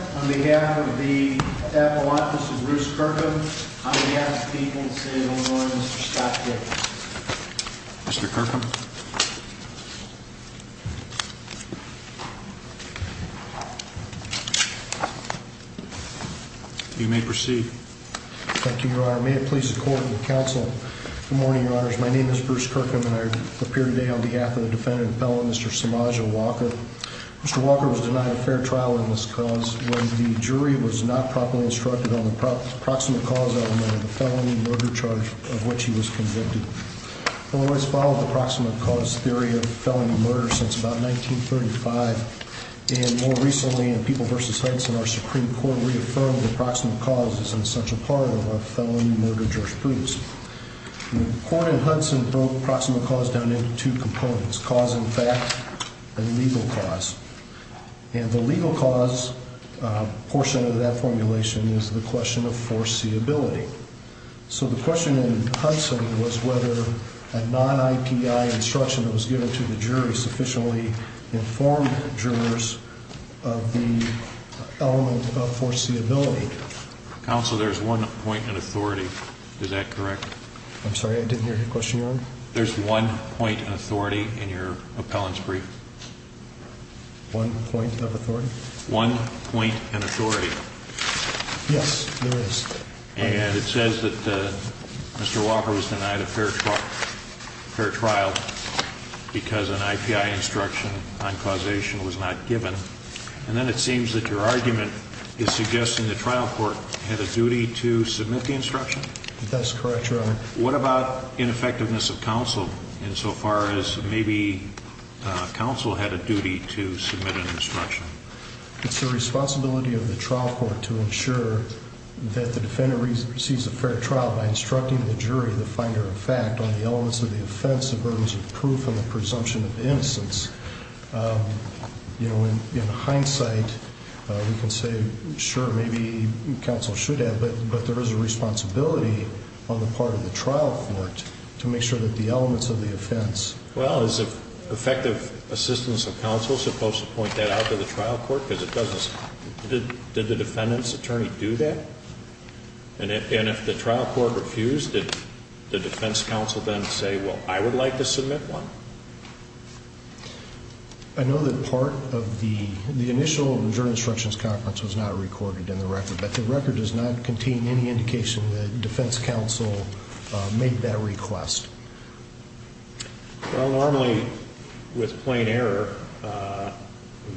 on behalf of the Apple office of Bruce Kirkham, on behalf of the people of the city of Illinois, Mr. Scott Dickerson. Mr. Kirkham. You may proceed. Thank you, Your Honor. May it please the court and the counsel. Good morning, Your Honors. My name is Bruce Kirkham and I appear today on behalf of the defendant and felon, Mr. Samadja Walker. Mr. Walker was denied a fair trial in this cause when the jury was not properly instructed on the proximate cause element of the felony murder charge of which he was convicted. I've always followed the proximate cause theory of felony murder since about 1935. And more recently, in People v. Hudson, our Supreme Court reaffirmed the proximate cause is an essential part of a felony murder jurisprudence. The court in Hudson broke proximate cause down into two components. Cause in fact, and legal cause. And the legal cause portion of that formulation is the question of foreseeability. So the question in Hudson was whether a non-IPI instruction that was given to the jury sufficiently informed jurors of the element of foreseeability. Counsel, there's one point in authority. Is that correct? I'm sorry, I didn't hear your question, Your Honor. There's one point in authority in your appellant's brief. One point of authority? One point in authority. Yes, there is. And it says that Mr. Walker was denied a fair trial because an IPI instruction on causation was not given. And then it seems that your argument is suggesting the trial court had a duty to submit the instruction? That's correct, Your Honor. What about ineffectiveness of counsel insofar as maybe counsel had a duty to submit an instruction? It's the responsibility of the trial court to ensure that the defendant receives a fair trial by instructing the jury, the finder of fact, on the elements of the offense, the burdens of proof, and the presumption of innocence. You know, in hindsight, we can say, sure, maybe counsel should have. But there is a responsibility on the part of the trial court to make sure that the elements of the offense. Well, is effective assistance of counsel supposed to point that out to the trial court? Did the defendant's attorney do that? And if the trial court refused, did the defense counsel then say, well, I would like to submit one? I know that part of the initial jury instructions conference was not recorded in the record, but the record does not contain any indication that defense counsel made that request. Well, normally with plain error,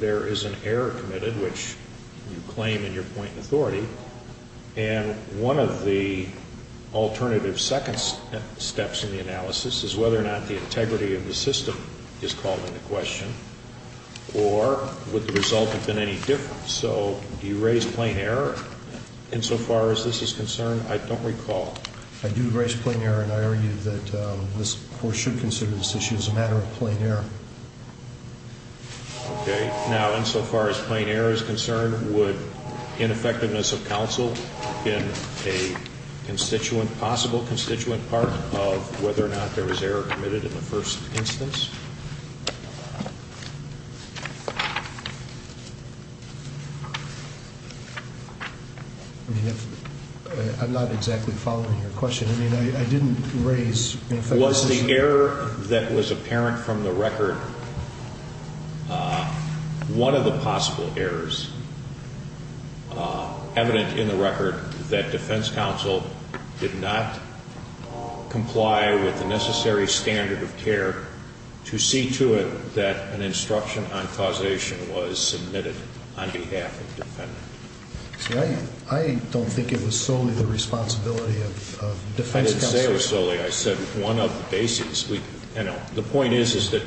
there is an error committed, which you claim in your point in authority. And one of the alternative second steps in the analysis is whether or not the integrity of the system is called into question or would the result have been any different. So do you raise plain error insofar as this is concerned? I don't recall. I do raise plain error, and I argue that this court should consider this issue as a matter of plain error. Okay. Now, insofar as plain error is concerned, would ineffectiveness of counsel in a constituent, constituent part of whether or not there was error committed in the first instance? I mean, I'm not exactly following your question. I mean, I didn't raise. Was the error that was apparent from the record one of the possible errors evident in the record that defense counsel did not comply with the necessary standard of care to see to it that an instruction on causation was submitted on behalf of the defendant? See, I don't think it was solely the responsibility of defense counsel. I didn't say it was solely. I said one of the bases. The point is that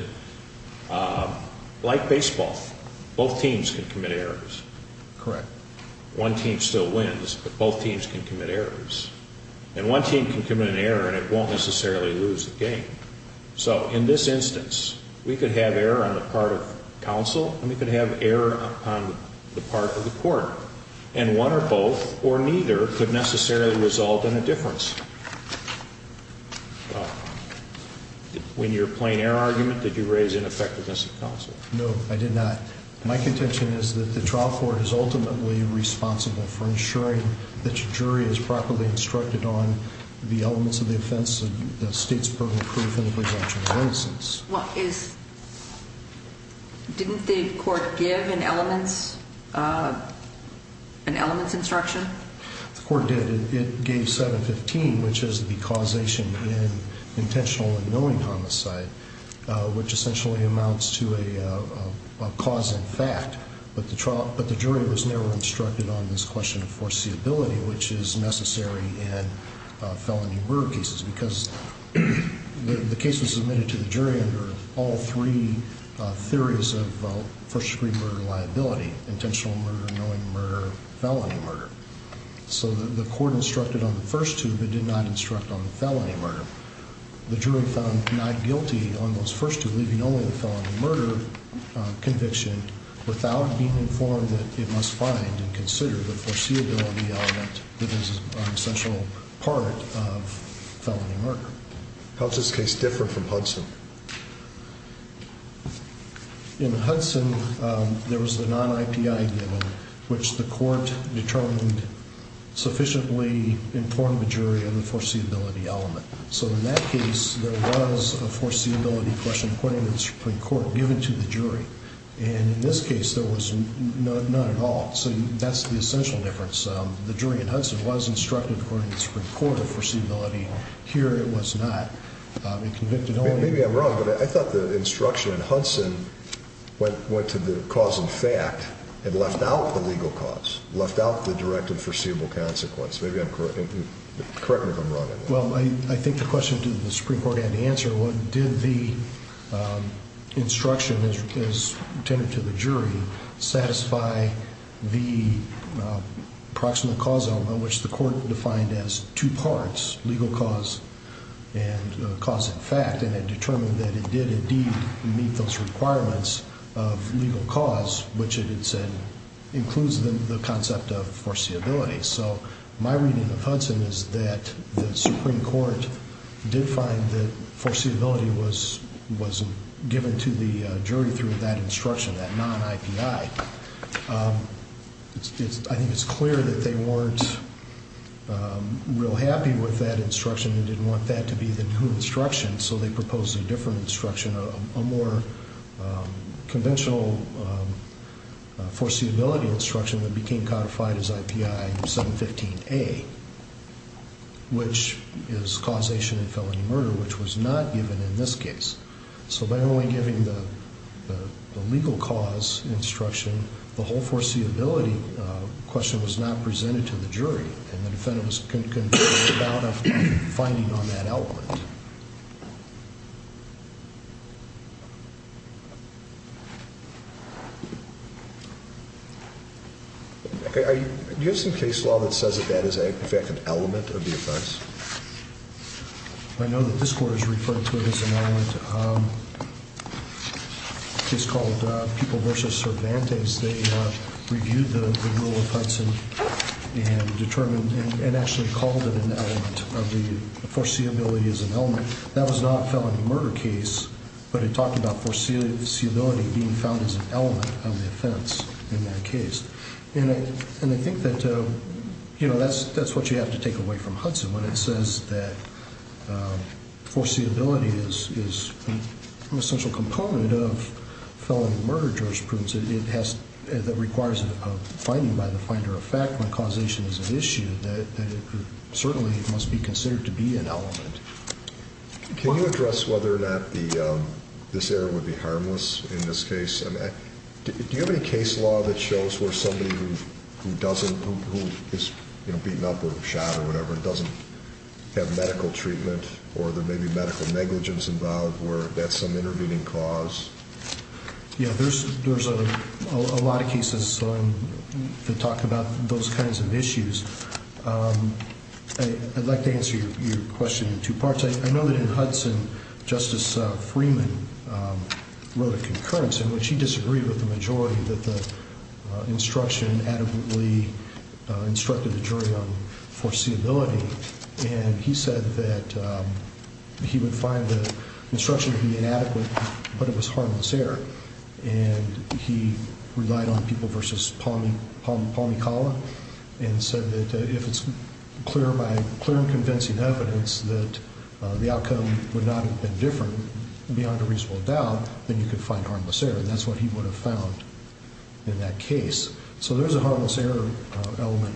like baseball, both teams can commit errors. Correct. One team still wins, but both teams can commit errors. And one team can commit an error, and it won't necessarily lose the game. So in this instance, we could have error on the part of counsel, and we could have error on the part of the court. And one or both, or neither, could necessarily result in a difference. When you're playing error argument, did you raise ineffectiveness of counsel? No, I did not. My contention is that the trial court is ultimately responsible for ensuring that your jury is properly instructed on the elements of the offense, the state's proven proof, and the presumption of innocence. Didn't the court give an elements instruction? The court did. It gave 715, which is the causation in intentional and knowing homicide, which essentially amounts to a cause in fact. But the jury was never instructed on this question of foreseeability, which is necessary in felony murder cases, because the case was submitted to the jury under all three theories of first-degree murder liability, intentional murder, knowing murder, felony murder. So the court instructed on the first two, but did not instruct on the felony murder. The jury found not guilty on those first two, leaving only the felony murder conviction without being informed that it must find and consider the foreseeability element that is an essential part of felony murder. In Hudson, there was a non-IPI given, which the court determined sufficiently informed the jury of the foreseeability element. So in that case, there was a foreseeability question according to the Supreme Court given to the jury. And in this case, there was none at all. So that's the essential difference. The jury in Hudson was instructed according to the Supreme Court of foreseeability. Here it was not. Maybe I'm wrong, but I thought the instruction in Hudson went to the cause in fact and left out the legal cause, left out the direct and foreseeable consequence. Maybe I'm correct. Correct me if I'm wrong. Well, I think the question to the Supreme Court had to answer, did the instruction as intended to the jury satisfy the approximate cause element, which the court defined as two parts, legal cause and cause in fact, and it determined that it did indeed meet those requirements of legal cause, which it had said includes the concept of foreseeability. So my reading of Hudson is that the Supreme Court did find that foreseeability was given to the jury through that instruction, that non-IPI. I think it's clear that they weren't real happy with that instruction and didn't want that to be the new instruction, so they proposed a different instruction, a more conventional foreseeability instruction that became codified as IPI 715A, which is causation in felony murder, which was not given in this case. So by only giving the legal cause instruction, the whole foreseeability question was not presented to the jury, and the defendant was convinced about a finding on that element. Do you have some case law that says that that is in fact an element of the offense? I know that this court has referred to it as an element. It's called People v. Cervantes. They reviewed the rule of Hudson and determined and actually called it an element of the foreseeability as an element. That was not a felony murder case, but it talked about foreseeability being found as an element of the offense in that case, and I think that's what you have to take away from Hudson when it says that foreseeability is an essential component of felony murder jurisprudence. It requires a finding by the finder of fact when causation is an issue, that it certainly must be considered to be an element. Can you address whether or not this error would be harmless in this case? Do you have any case law that shows where somebody who is beaten up or shot or whatever doesn't have medical treatment or there may be medical negligence involved where that's some intervening cause? Yeah, there's a lot of cases that talk about those kinds of issues. I'd like to answer your question in two parts. I know that in Hudson, Justice Freeman wrote a concurrence in which he disagreed with the majority that the instruction adequately instructed the jury on foreseeability, and he said that he would find the instruction to be inadequate, but it was harmless error, and he relied on people versus Palmi Kala and said that if it's clear by clear and convincing evidence that the outcome would not have been different beyond a reasonable doubt, then you could find harmless error, and that's what he would have found in that case. So there's a harmless error element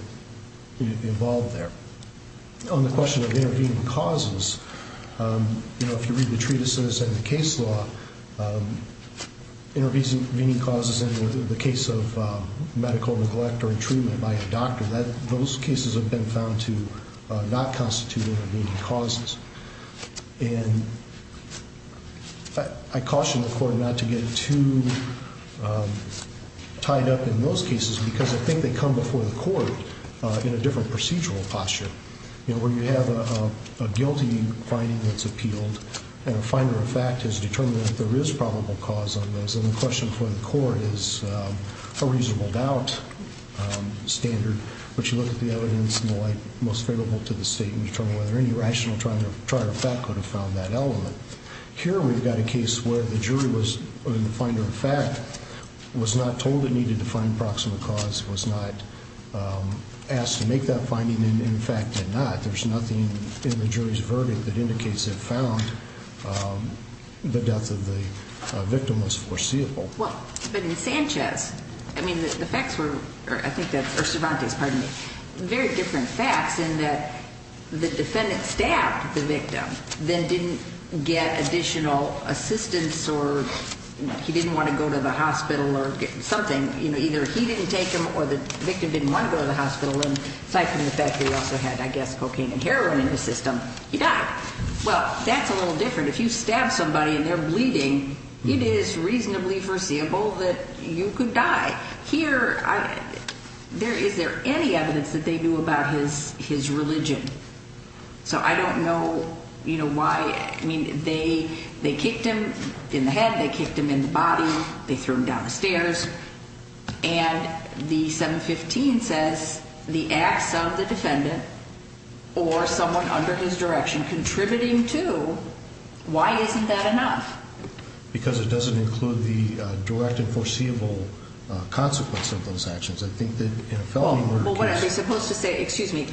involved there. On the question of intervening causes, if you read the treatises and the case law, intervening causes in the case of medical neglect or in treatment by a doctor, those cases have been found to not constitute intervening causes, and I caution the court not to get too tied up in those cases because I think they come before the court in a different procedural posture, where you have a guilty finding that's appealed, and a finder of fact has determined that there is probable cause on those, and the question for the court is a reasonable doubt standard, but you look at the evidence and the like most favorable to the state and determine whether any rational trier of fact could have found that element. Here we've got a case where the jury was in the finder of fact, was not told it needed to find proximate cause, was not asked to make that finding, and in fact did not. There's nothing in the jury's verdict that indicates it found the death of the victim was foreseeable. But in Sanchez, I mean the facts were, or I think that's, or Cervantes, pardon me, very different facts in that the defendant stabbed the victim, then didn't get additional assistance or he didn't want to go to the hospital or something. Either he didn't take him or the victim didn't want to go to the hospital, and aside from the fact that he also had, I guess, cocaine and heroin in his system, he died. Well, that's a little different. If you stab somebody and they're bleeding, it is reasonably foreseeable that you could die. Here, is there any evidence that they knew about his religion? So I don't know why, I mean, they kicked him in the head, they kicked him in the body, they threw him down the stairs, and the 715 says the acts of the defendant or someone under his direction contributing to, why isn't that enough? Because it doesn't include the direct and foreseeable consequence of those actions. I think that in a felony murder case... Well, what are they supposed to say? Excuse me,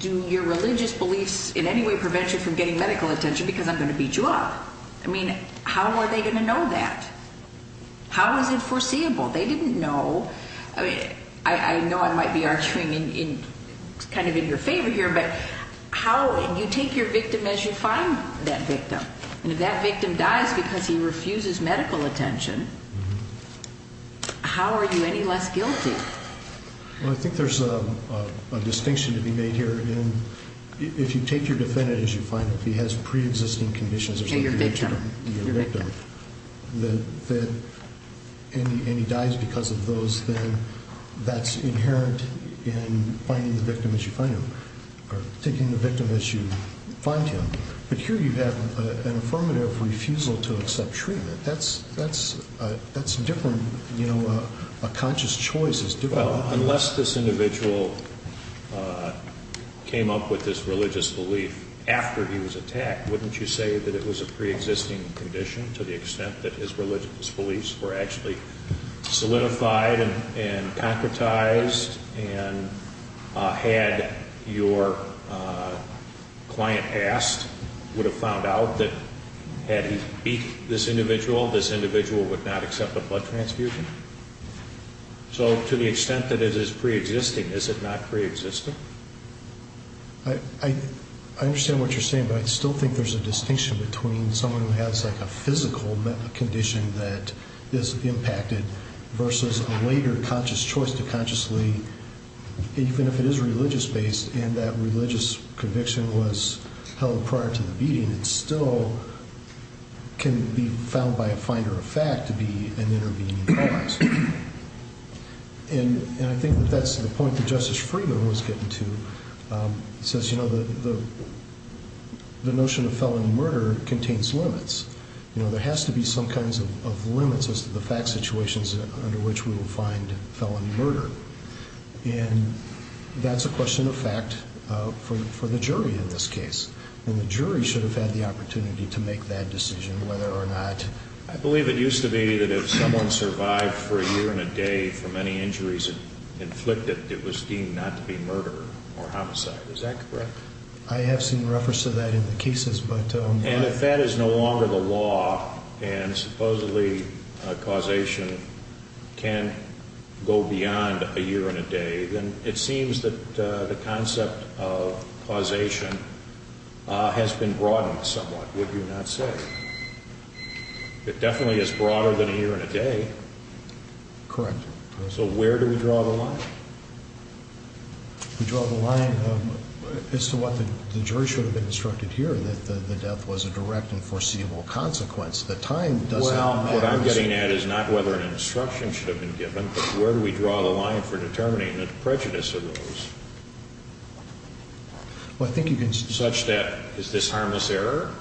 do your religious beliefs in any way prevent you from getting medical attention? Because I'm going to beat you up. I mean, how are they going to know that? How is it foreseeable? They didn't know. I mean, I know I might be arguing kind of in your favor here, but how, you take your victim as you find that victim, and if that victim dies because he refuses medical attention, how are you any less guilty? Well, I think there's a distinction to be made here. If you take your defendant as you find him, if he has preexisting conditions... And you're a victim. You're a victim, and he dies because of those, then that's inherent in finding the victim as you find him, or taking the victim as you find him. But here you have an affirmative refusal to accept treatment. That's different. You know, a conscious choice is different. Unless this individual came up with this religious belief after he was attacked, wouldn't you say that it was a preexisting condition to the extent that his religious beliefs were actually solidified and concretized and had your client asked, would have found out that had he beat this individual, this individual would not accept a blood transfusion? So to the extent that it is preexisting, is it not preexisting? I understand what you're saying, but I still think there's a distinction between someone who has like a physical condition that is impacted versus a later conscious choice to consciously, even if it is religious-based and that religious conviction was held prior to the beating, it still can be found by a finder of fact to be an intervening cause. And I think that that's the point that Justice Freeman was getting to. He says, you know, the notion of felony murder contains limits. You know, there has to be some kinds of limits as to the fact situations under which we will find felony murder. And that's a question of fact for the jury in this case, and the jury should have had the opportunity to make that decision whether or not. I believe it used to be that if someone survived for a year and a day from any injuries inflicted, it was deemed not to be murder or homicide. Is that correct? I have seen reference to that in the cases, but. And if that is no longer the law and supposedly causation can go beyond a year and a day, then it seems that the concept of causation has been broadened somewhat, would you not say? It definitely is broader than a year and a day. Correct. So where do we draw the line? We draw the line as to what the jury should have been instructed here, that the death was a direct and foreseeable consequence. The time does not matter. Well, what I'm getting at is not whether an instruction should have been given, but where do we draw the line for determining the prejudice of those? Well, I think you can. Such that is this harmless error?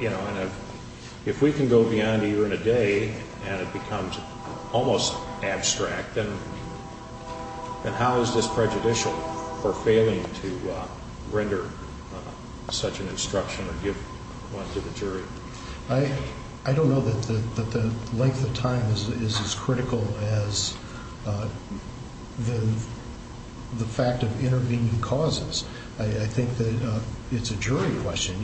You know, if we can go beyond a year and a day and it becomes almost abstract, then how is this prejudicial for failing to render such an instruction or give one to the jury? I don't know that the length of time is as critical as the fact of intervening causes. I think that it's a jury question.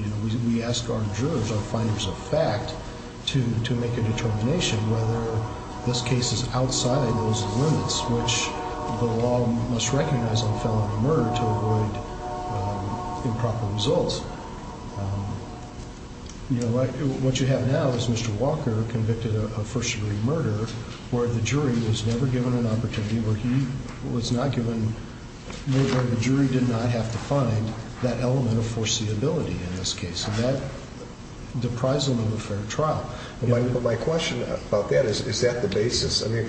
We ask our jurors, our finders of fact, to make a determination whether this case is outside those limits, which the law must recognize in felony murder to avoid improper results. You know, what you have now is Mr. Walker convicted of first-degree murder, where the jury was never given an opportunity, where the jury did not have to find that element of foreseeability in this case, and that deprives them of a fair trial. But my question about that is, is that the basis? I mean,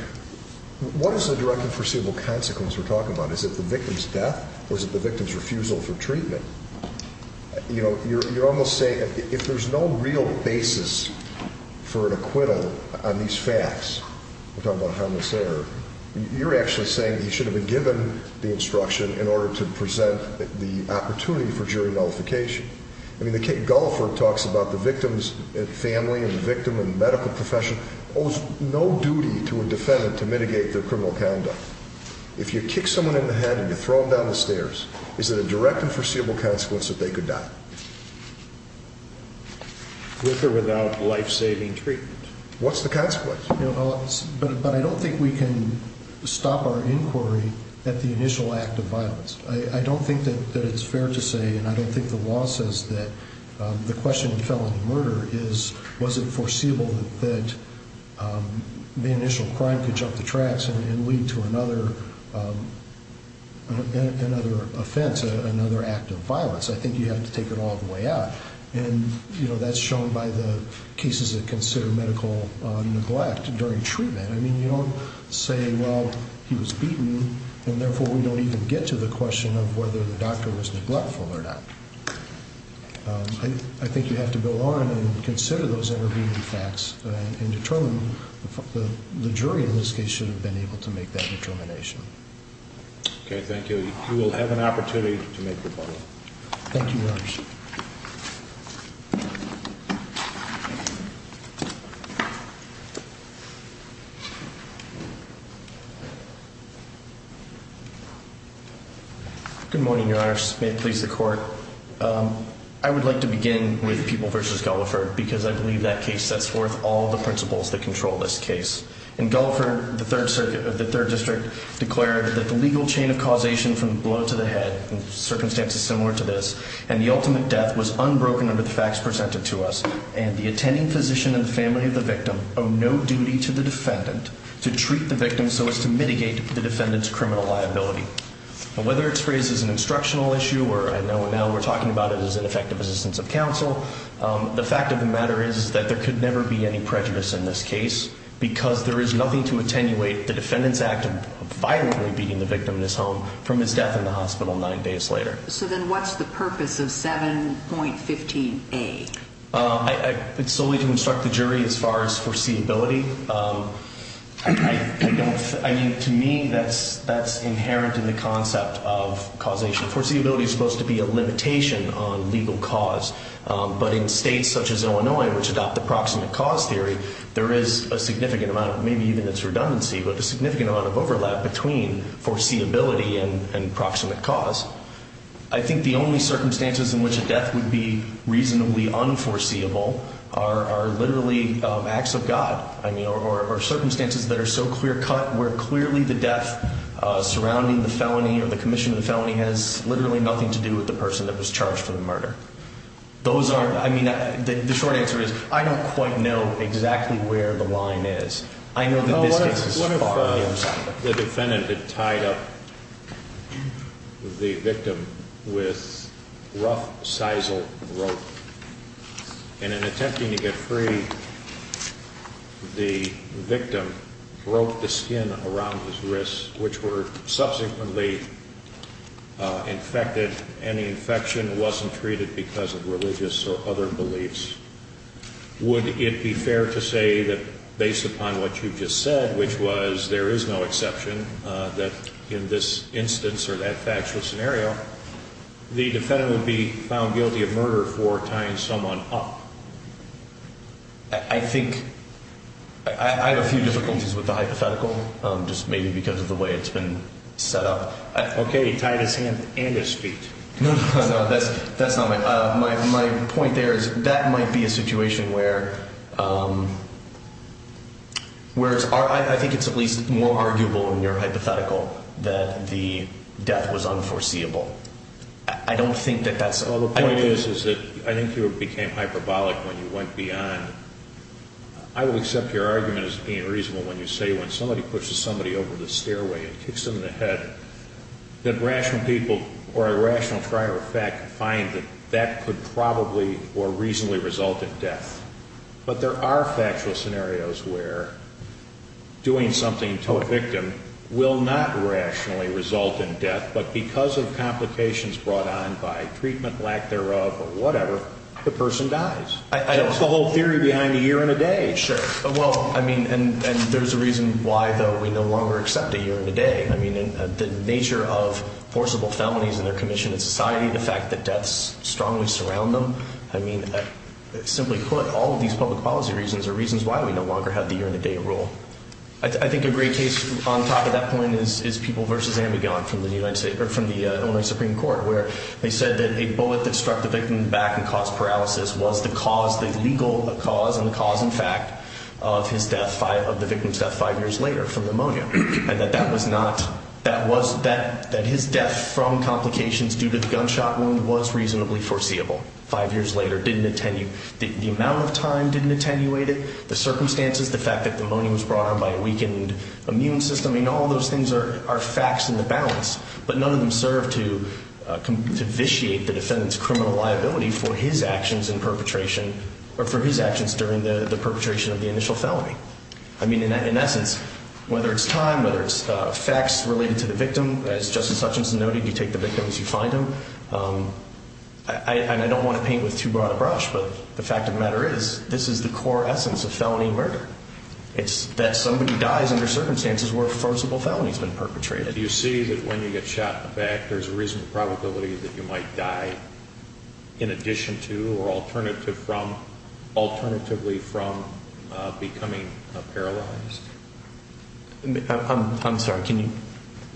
what is the direct and foreseeable consequence we're talking about? Is it the victim's death or is it the victim's refusal for treatment? You know, you're almost saying if there's no real basis for an acquittal on these facts, we're talking about a harmless error, you're actually saying he should have been given the instruction in order to present the opportunity for jury nullification. I mean, the Kate Gullifer talks about the victim's family and the victim in the medical profession owes no duty to a defendant to mitigate their criminal conduct. If you kick someone in the head and you throw them down the stairs, is it a direct and foreseeable consequence that they could die? With or without life-saving treatment? What's the consequence? But I don't think we can stop our inquiry at the initial act of violence. I don't think that it's fair to say, and I don't think the law says that the question in felony murder is, was it foreseeable that the initial crime could jump the tracks and lead to another offense, another act of violence? I think you have to take it all the way out. And that's shown by the cases that consider medical neglect during treatment. I mean, you don't say, well, he was beaten, and therefore we don't even get to the question of whether the doctor was neglectful or not. I think you have to go on and consider those facts and determine the jury in this case should have been able to make that determination. Okay, thank you. You will have an opportunity to make your point. Thank you, Your Honors. Good morning, Your Honors. May it please the Court. I would like to begin with Peeble v. Gulliford because I believe that case sets forth all the principles that control this case. In Gulliford, the Third District declared that the legal chain of causation from the blow to the head, the circumstance is similar to this, and the ultimate death was unbroken under the facts presented to us. And the attending physician and the family of the victim owe no duty to the defendant to treat the victim so as to mitigate the defendant's criminal liability. And whether it's phrased as an instructional issue, or I know now we're talking about it as an effective assistance of counsel, the fact of the matter is that there could never be any prejudice in this case because there is nothing to attenuate the defendant's act of violently beating the victim in his home from his death in the hospital nine days later. So then what's the purpose of 7.15a? It's solely to instruct the jury as far as foreseeability. I mean, to me, that's inherent in the concept of causation. Foreseeability is supposed to be a limitation on legal cause. But in states such as Illinois, which adopt the proximate cause theory, there is a significant amount, maybe even it's redundancy, but a significant amount of overlap between foreseeability and proximate cause. I think the only circumstances in which a death would be reasonably unforeseeable are literally acts of God, I mean, or circumstances that are so clear-cut where clearly the death surrounding the felony or the commission of the felony has literally nothing to do with the person that was charged for the murder. Those aren't, I mean, the short answer is I don't quite know exactly where the line is. I know that this case is far from that. The defendant had tied up the victim with rough sisal rope. And in attempting to get free, the victim broke the skin around his wrists, which were subsequently infected, and the infection wasn't treated because of religious or other beliefs. Would it be fair to say that based upon what you just said, which was there is no exception, that in this instance or that factual scenario, the defendant would be found guilty of murder for tying someone up? I think I have a few difficulties with the hypothetical, just maybe because of the way it's been set up. Okay, he tied his hand and his feet. No, that's not my point. My point there is that might be a situation where I think it's at least more arguable in your hypothetical that the death was unforeseeable. I don't think that that's the point. The point is that I think you became hyperbolic when you went beyond. I will accept your argument as being reasonable when you say when somebody pushes somebody over the stairway and kicks them in the head, that rational people or a rational prior effect find that that could probably or reasonably result in death. But there are factual scenarios where doing something to a victim will not rationally result in death, but because of complications brought on by treatment, lack thereof, or whatever, the person dies. That's the whole theory behind a year and a day. Sure. Well, I mean, and there's a reason why, though, we no longer accept a year and a day. I mean, the nature of forcible felonies and their commission in society, the fact that deaths strongly surround them, I mean, simply put, all of these public policy reasons are reasons why we no longer have the year and a day rule. I think a great case on top of that point is People v. Ambigon from the Illinois Supreme Court, where they said that a bullet that struck the victim in the back and caused paralysis was the legal cause and the cause in fact of the victim's death five years later from pneumonia, and that his death from complications due to the gunshot wound was reasonably foreseeable. Five years later didn't attenuate. The amount of time didn't attenuate it. The circumstances, the fact that pneumonia was brought on by a weakened immune system, I mean, all those things are facts in the balance, but none of them serve to vitiate the defendant's criminal liability for his actions in perpetration or for his actions during the perpetration of the initial felony. I mean, in essence, whether it's time, whether it's facts related to the victim, as Justice Hutchinson noted, you take the victim as you find him. And I don't want to paint with too broad a brush, but the fact of the matter is this is the core essence of felony murder. It's that somebody dies under circumstances where a forcible felony has been perpetrated. Do you see that when you get shot in the back there's a reasonable probability that you might die in addition to or alternatively from becoming paralyzed? I'm sorry, can you?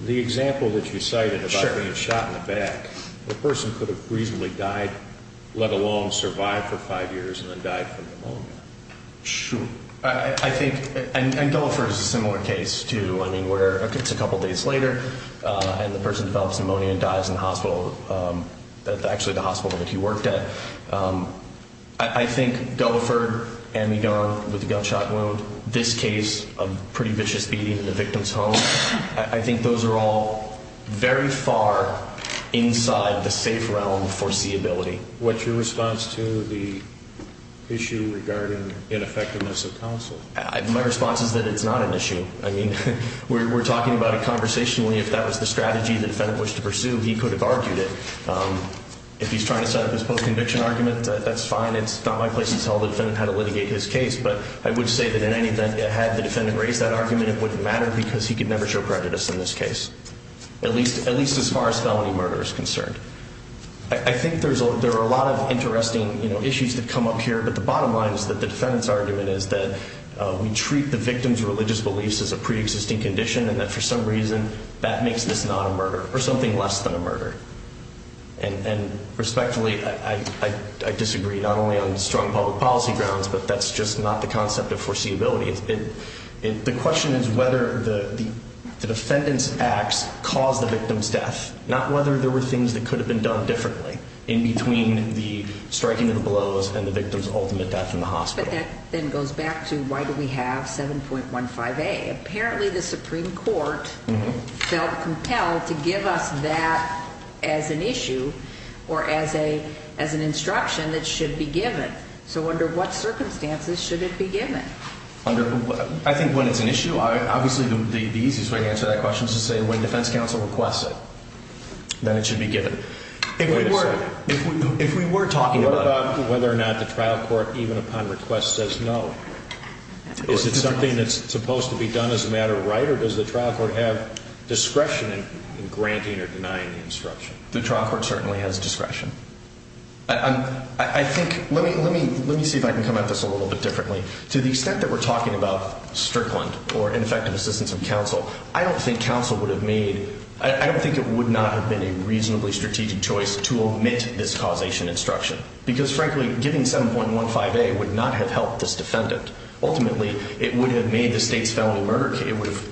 The example that you cited about being shot in the back, a person could have reasonably died, let alone survived for five years and then died from pneumonia. Sure. I think, and Gulliford is a similar case, too. I mean, where it's a couple days later and the person develops pneumonia and dies in the hospital, actually the hospital that he worked at. I think Gulliford, Amidon with the gunshot wound, this case of pretty vicious beating in the victim's home, I think those are all very far inside the safe realm foreseeability. What's your response to the issue regarding ineffectiveness of counsel? My response is that it's not an issue. I mean, we're talking about it conversationally. If that was the strategy the defendant wished to pursue, he could have argued it. If he's trying to set up his post-conviction argument, that's fine. It's not my place to tell the defendant how to litigate his case. But I would say that had the defendant raised that argument, it wouldn't matter because he could never show prejudice in this case, at least as far as felony murder is concerned. I think there are a lot of interesting issues that come up here, but the bottom line is that the defendant's argument is that we treat the victim's religious beliefs as a preexisting condition and that for some reason that makes this not a murder or something less than a murder. And respectfully, I disagree not only on strong public policy grounds, but that's just not the concept of foreseeability. The question is whether the defendant's acts caused the victim's death, not whether there were things that could have been done differently in between the striking of the blows and the victim's ultimate death in the hospital. But that then goes back to why do we have 7.15a. Apparently the Supreme Court felt compelled to give us that as an issue or as an instruction that should be given. So under what circumstances should it be given? I think when it's an issue, obviously the easiest way to answer that question is to say when defense counsel requests it, then it should be given. If we were talking about whether or not the trial court even upon request says no, is it something that's supposed to be done as a matter of right or does the trial court have discretion in granting or denying the instruction? The trial court certainly has discretion. I think, let me see if I can come at this a little bit differently. To the extent that we're talking about Strickland or ineffective assistance of counsel, I don't think counsel would have made, I don't think it would not have been a reasonably strategic choice to omit this causation instruction because frankly giving 7.15a would not have helped this defendant. Ultimately, it would have made the state's felony murder case,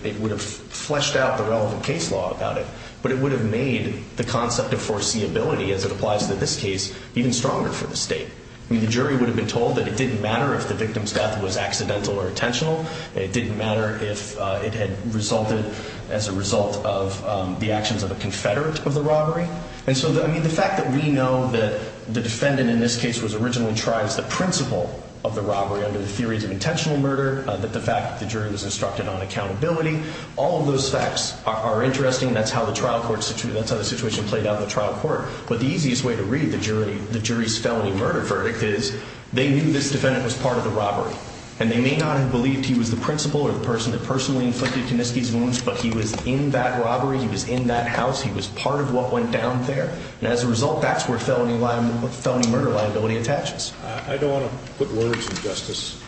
it would have fleshed out the relevant case law about it, but it would have made the concept of foreseeability as it applies to this case even stronger for the state. The jury would have been told that it didn't matter if the victim's death was accidental or intentional. It didn't matter if it had resulted as a result of the actions of a confederate of the robbery. And so the fact that we know that the defendant in this case was originally tried as the principal of the robbery under the theories of intentional murder, that the fact that the jury was instructed on accountability, all of those facts are interesting. That's how the trial court, that's how the situation played out in the trial court. But the easiest way to read the jury, the jury's felony murder verdict is they knew this defendant was part of the robbery. And they may not have believed he was the principal or the person that personally inflicted Kuniski's wounds, but he was in that robbery, he was in that house, he was part of what went down there. And as a result, that's where felony murder liability attaches. I don't want to put words in Justice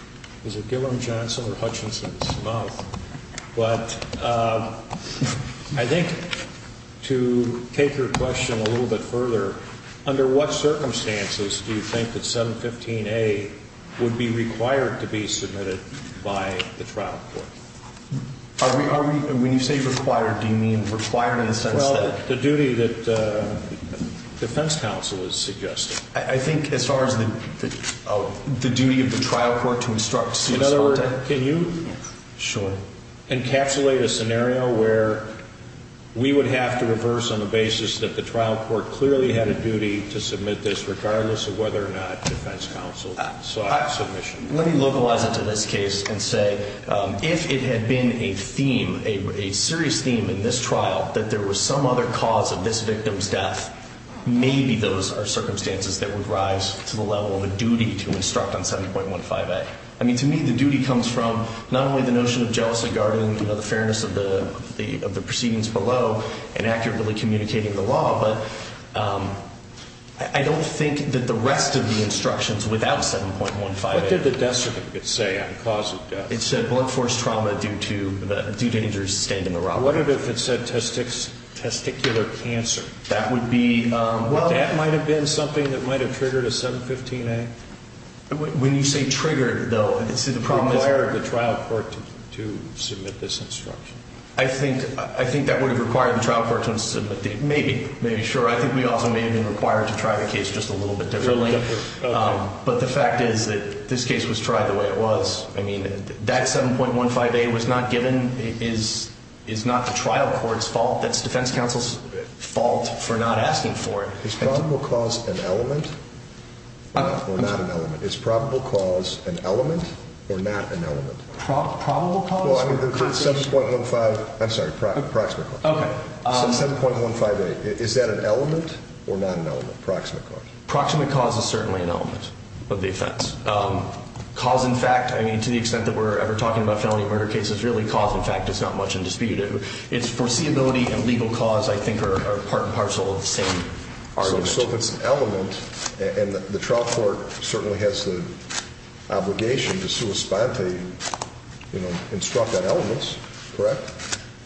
Gillum, Johnson, or Hutchinson's mouth, but I think to take your question a little bit further, under what circumstances do you think that 715A would be required to be submitted by the trial court? When you say required, do you mean required in the sense that? Well, the duty that defense counsel is suggesting. I think as far as the duty of the trial court to instruct. In other words, can you encapsulate a scenario where we would have to reverse on the basis that the trial court clearly had a duty to submit this, regardless of whether or not defense counsel sought submission. Let me localize it to this case and say, if it had been a theme, a serious theme in this trial, that there was some other cause of this victim's death, maybe those are circumstances that would rise to the level of a duty to instruct on 715A. I mean, to me, the duty comes from not only the notion of jealousy, guarding the fairness of the proceedings below and accurately communicating the law, but I don't think that the rest of the instructions without 715A. What did the death certificate say on the cause of death? It said blood force trauma due to injuries sustained in the robbery. I wonder if it said testicular cancer. That might have been something that might have triggered a 715A. When you say triggered, though, the problem is required the trial court to submit this instruction. I think that would have required the trial court to submit the instruction. Maybe, sure. I think we also may have been required to try the case just a little bit differently. But the fact is that this case was tried the way it was. I mean, that 7.15A was not given is not the trial court's fault. That's defense counsel's fault for not asking for it. Is probable cause an element or not an element? Is probable cause an element or not an element? Probable cause? Well, 7.15, I'm sorry, proximate cause. Okay. 7.15A, is that an element or not an element, proximate cause? Proximate cause is certainly an element of the offense. Cause, in fact, I mean, to the extent that we're ever talking about felony murder cases, really, cause, in fact, is not much in dispute. Its foreseeability and legal cause, I think, are part and parcel of the same subject. So if it's an element, and the trial court certainly has the obligation to sua sponte instruct on elements, correct?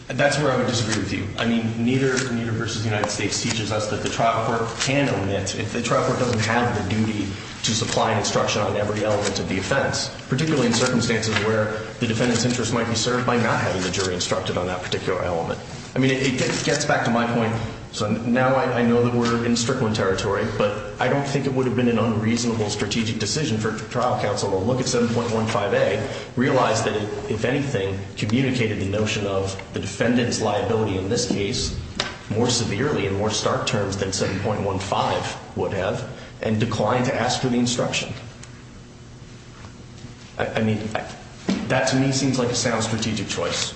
That's where I would disagree with you. I mean, neither versus the United States teaches us that the trial court can omit. If the trial court doesn't have the duty to supply instruction on every element of the offense, particularly in circumstances where the defendant's interest might be served by not having the jury instructed on that particular element. I mean, it gets back to my point. So now I know that we're in Strickland territory, but I don't think it would have been an unreasonable strategic decision for trial counsel to look at 7.15A, realize that it, if anything, communicated the notion of the defendant's liability in this case more severely and more stark terms than 7.15. would have, and decline to ask for the instruction. I mean, that, to me, seems like a sound strategic choice.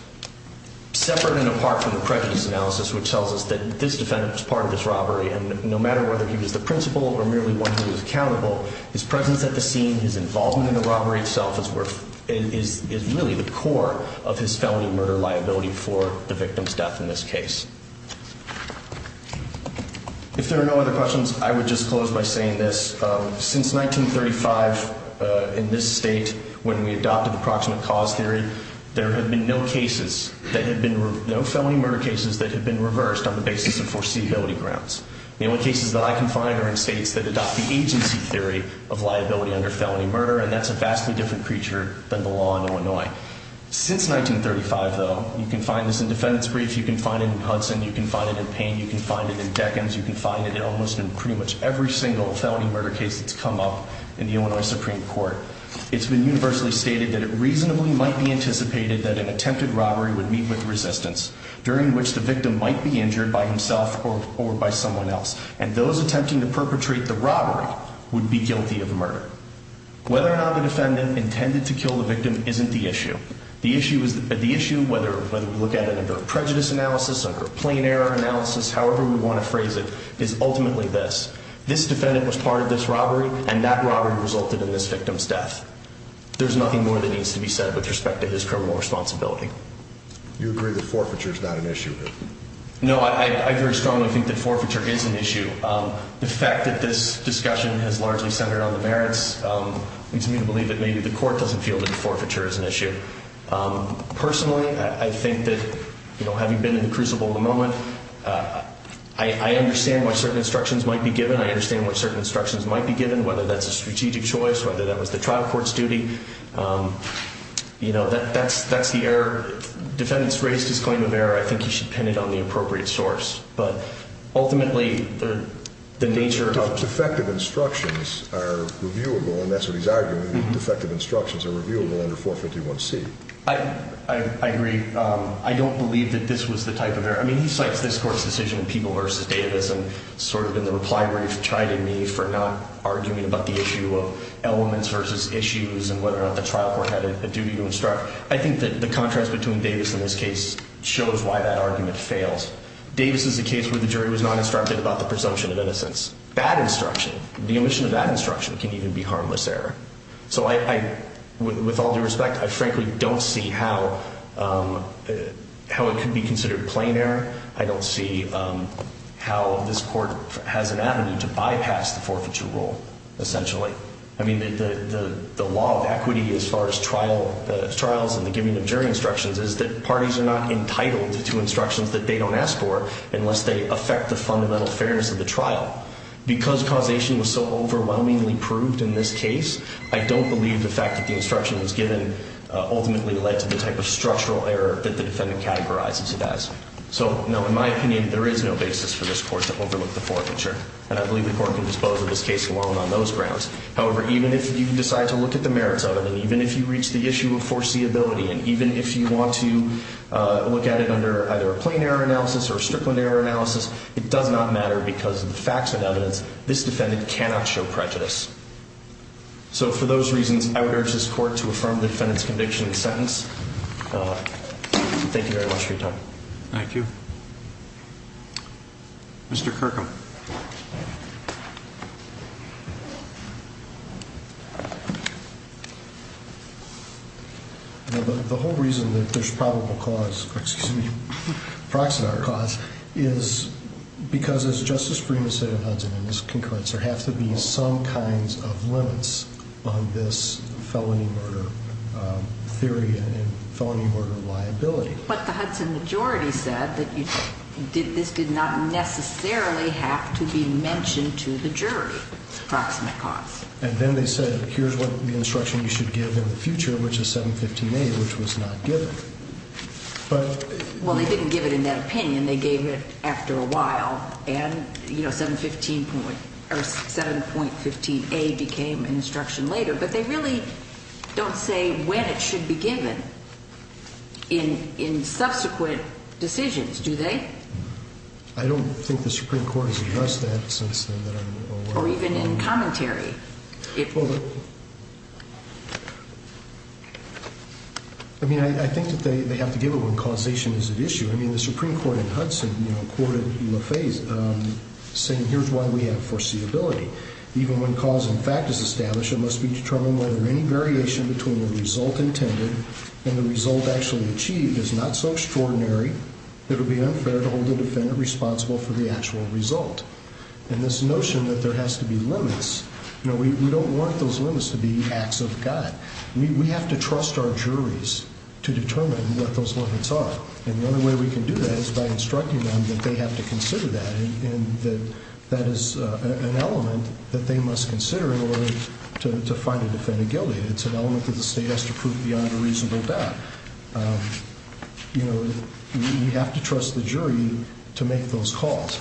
Separate and apart from the prejudice analysis, which tells us that this defendant was part of this robbery, and no matter whether he was the principal or merely one who was accountable, his presence at the scene, his involvement in the robbery itself is really the core of his felony murder liability for the victim's death in this case. If there are no other questions, I would just close by saying this. Since 1935, in this state, when we adopted the proximate cause theory, there have been no cases, no felony murder cases that have been reversed on the basis of foreseeability grounds. The only cases that I can find are in states that adopt the agency theory of liability under felony murder, and that's a vastly different creature than the law in Illinois. Since 1935, though, you can find this in defendant's briefs, you can find it in Hudson, you can find it in Payne, you can find it in Deccan's, you can find it in almost pretty much every single felony murder case that's come up in the Illinois Supreme Court. It's been universally stated that it reasonably might be anticipated that an attempted robbery would meet with resistance, during which the victim might be injured by himself or by someone else, and those attempting to perpetrate the robbery would be guilty of murder. Whether or not the defendant intended to kill the victim isn't the issue. The issue, whether we look at it under a prejudice analysis, under a plain error analysis, however we want to phrase it, is ultimately this. This defendant was part of this robbery, and that robbery resulted in this victim's death. There's nothing more that needs to be said with respect to his criminal responsibility. You agree that forfeiture is not an issue? No, I very strongly think that forfeiture is an issue. The fact that this discussion has largely centered on the merits leads me to believe that maybe the court doesn't feel that forfeiture is an issue. Personally, I think that having been in the crucible in the moment, I understand why certain instructions might be given. I understand why certain instructions might be given, whether that's a strategic choice, whether that was the trial court's duty. That's the error. Defendant's raised his claim of error. I think he should pin it on the appropriate source. But ultimately, the nature of- Defective instructions are reviewable, and that's what he's arguing. Defective instructions are reviewable under 451C. I agree. I don't believe that this was the type of error. I mean, he cites this court's decision in People v. Davis and sort of in the reply brief, chiding me for not arguing about the issue of elements versus issues and whether or not the trial court had a duty to instruct. I think that the contrast between Davis and this case shows why that argument fails. Davis is a case where the jury was not instructed about the presumption of innocence. Bad instruction, the omission of that instruction can even be harmless error. So with all due respect, I frankly don't see how it could be considered plain error. I don't see how this court has an avenue to bypass the forfeiture rule, essentially. I mean, the law of equity as far as trials and the giving of jury instructions is that parties are not entitled to instructions that they don't ask for unless they affect the fundamental fairness of the trial. Because causation was so overwhelmingly proved in this case, I don't believe the fact that the instruction was given ultimately led to the type of structural error that the defendant categorizes it as. So, no, in my opinion, there is no basis for this court to overlook the forfeiture. And I believe the court can dispose of this case alone on those grounds. However, even if you decide to look at the merits of it, and even if you reach the issue of foreseeability, and even if you want to look at it under either a plain error analysis or a strickland error analysis, it does not matter because of the facts and evidence. This defendant cannot show prejudice. So for those reasons, I would urge this court to affirm the defendant's conviction in the sentence. Thank you very much for your time. Thank you. Mr. Kirkham. The whole reason that there's probable cause, excuse me, proxenar cause, is because, as Justice Freeman said in Hudson and this concludes, there have to be some kinds of limits on this felony murder theory and felony murder liability. But the Hudson majority said that this did not necessarily have to be mentioned to the jury, proxenar cause. And then they said, here's what the instruction you should give in the future, which is 7.15a, which was not given. Well, they didn't give it in that opinion. They gave it after a while, and 7.15a became an instruction later. But they really don't say when it should be given in subsequent decisions, do they? I don't think the Supreme Court has addressed that since then that I'm aware of. Or even in commentary. I mean, I think that they have to give it when causation is at issue. I mean, the Supreme Court in Hudson, you know, courted LaFaiz saying here's why we have foreseeability. Even when cause in fact is established, it must be determined whether any variation between the result intended and the result actually achieved is not so extraordinary that it would be unfair to hold the defendant responsible for the actual result. And this notion that there has to be limits, you know, we don't want those limits to be acts of God. We have to trust our juries to determine what those limits are. And the only way we can do that is by instructing them that they have to consider that and that that is an element that they must consider in order to find a defendant guilty. It's an element that the state has to prove beyond a reasonable doubt. You know, we have to trust the jury to make those calls.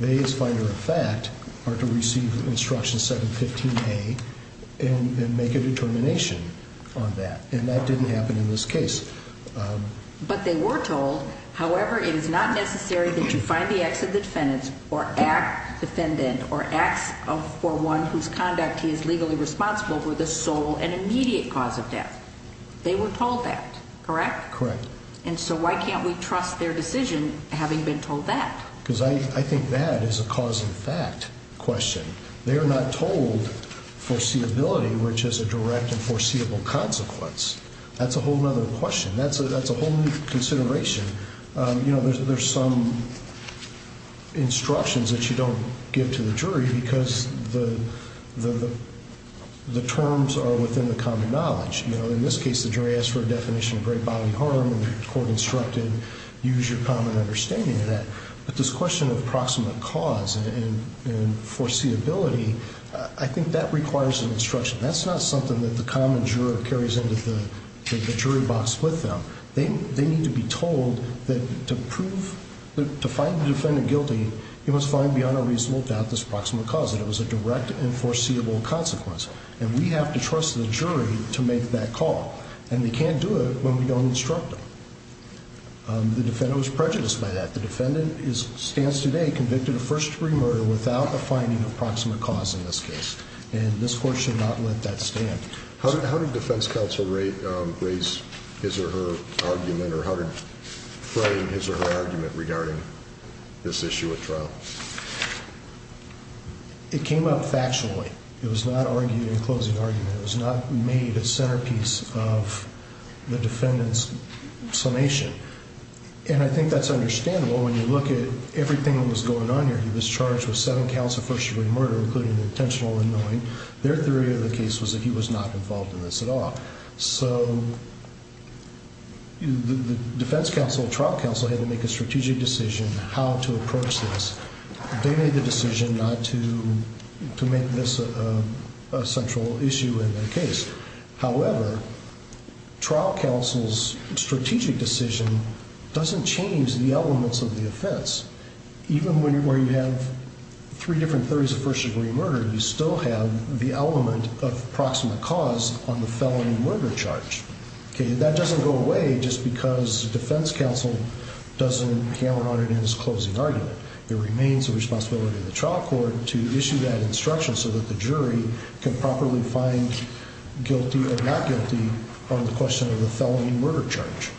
They, as finder of fact, are to receive instruction 7.15a and make a determination on that. And that didn't happen in this case. But they were told, however, it is not necessary that you find the acts of the defendants or act defendant or acts for one whose conduct he is legally responsible for the sole and immediate cause of death. They were told that, correct? Correct. And so why can't we trust their decision having been told that? Because I think that is a cause in fact question. They are not told foreseeability, which is a direct and foreseeable consequence. That's a whole other question. That's a whole new consideration. You know, there's some instructions that you don't give to the jury because the terms are within the common knowledge. You know, in this case, the jury asked for a definition of great bodily harm, and the court instructed use your common understanding of that. But this question of approximate cause and foreseeability, I think that requires an instruction. That's not something that the common juror carries into the jury box with them. They need to be told that to find the defendant guilty, he must find beyond a reasonable doubt this approximate cause, that it was a direct and foreseeable consequence. And we have to trust the jury to make that call. And they can't do it when we don't instruct them. The defendant was prejudiced by that. The defendant stands today convicted of first-degree murder without the finding of approximate cause in this case. And this court should not let that stand. How did defense counsel raise his or her argument, or how did he frame his or her argument regarding this issue at trial? It came out factually. It was not argued in closing argument. It was not made a centerpiece of the defendant's summation. And I think that's understandable when you look at everything that was going on here. The defendant was charged with seven counts of first-degree murder, including intentional unknowing. Their theory of the case was that he was not involved in this at all. So the defense counsel, trial counsel, had to make a strategic decision how to approach this. They made the decision not to make this a central issue in their case. However, trial counsel's strategic decision doesn't change the elements of the offense. Even where you have three different theories of first-degree murder, you still have the element of approximate cause on the felony murder charge. That doesn't go away just because defense counsel doesn't hammer on it in his closing argument. It remains the responsibility of the trial court to issue that instruction so that the jury can properly find guilty or not guilty on the question of the felony murder charge.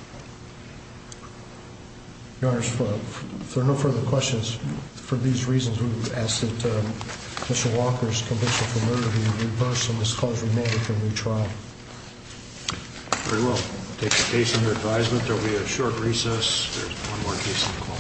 Your Honor, if there are no further questions, for these reasons, we would ask that Mr. Walker's conviction for murder be reversed and this clause remanded for a new trial. Very well. We'll take the case under advisement. There will be a short recess. There's one more case on the call.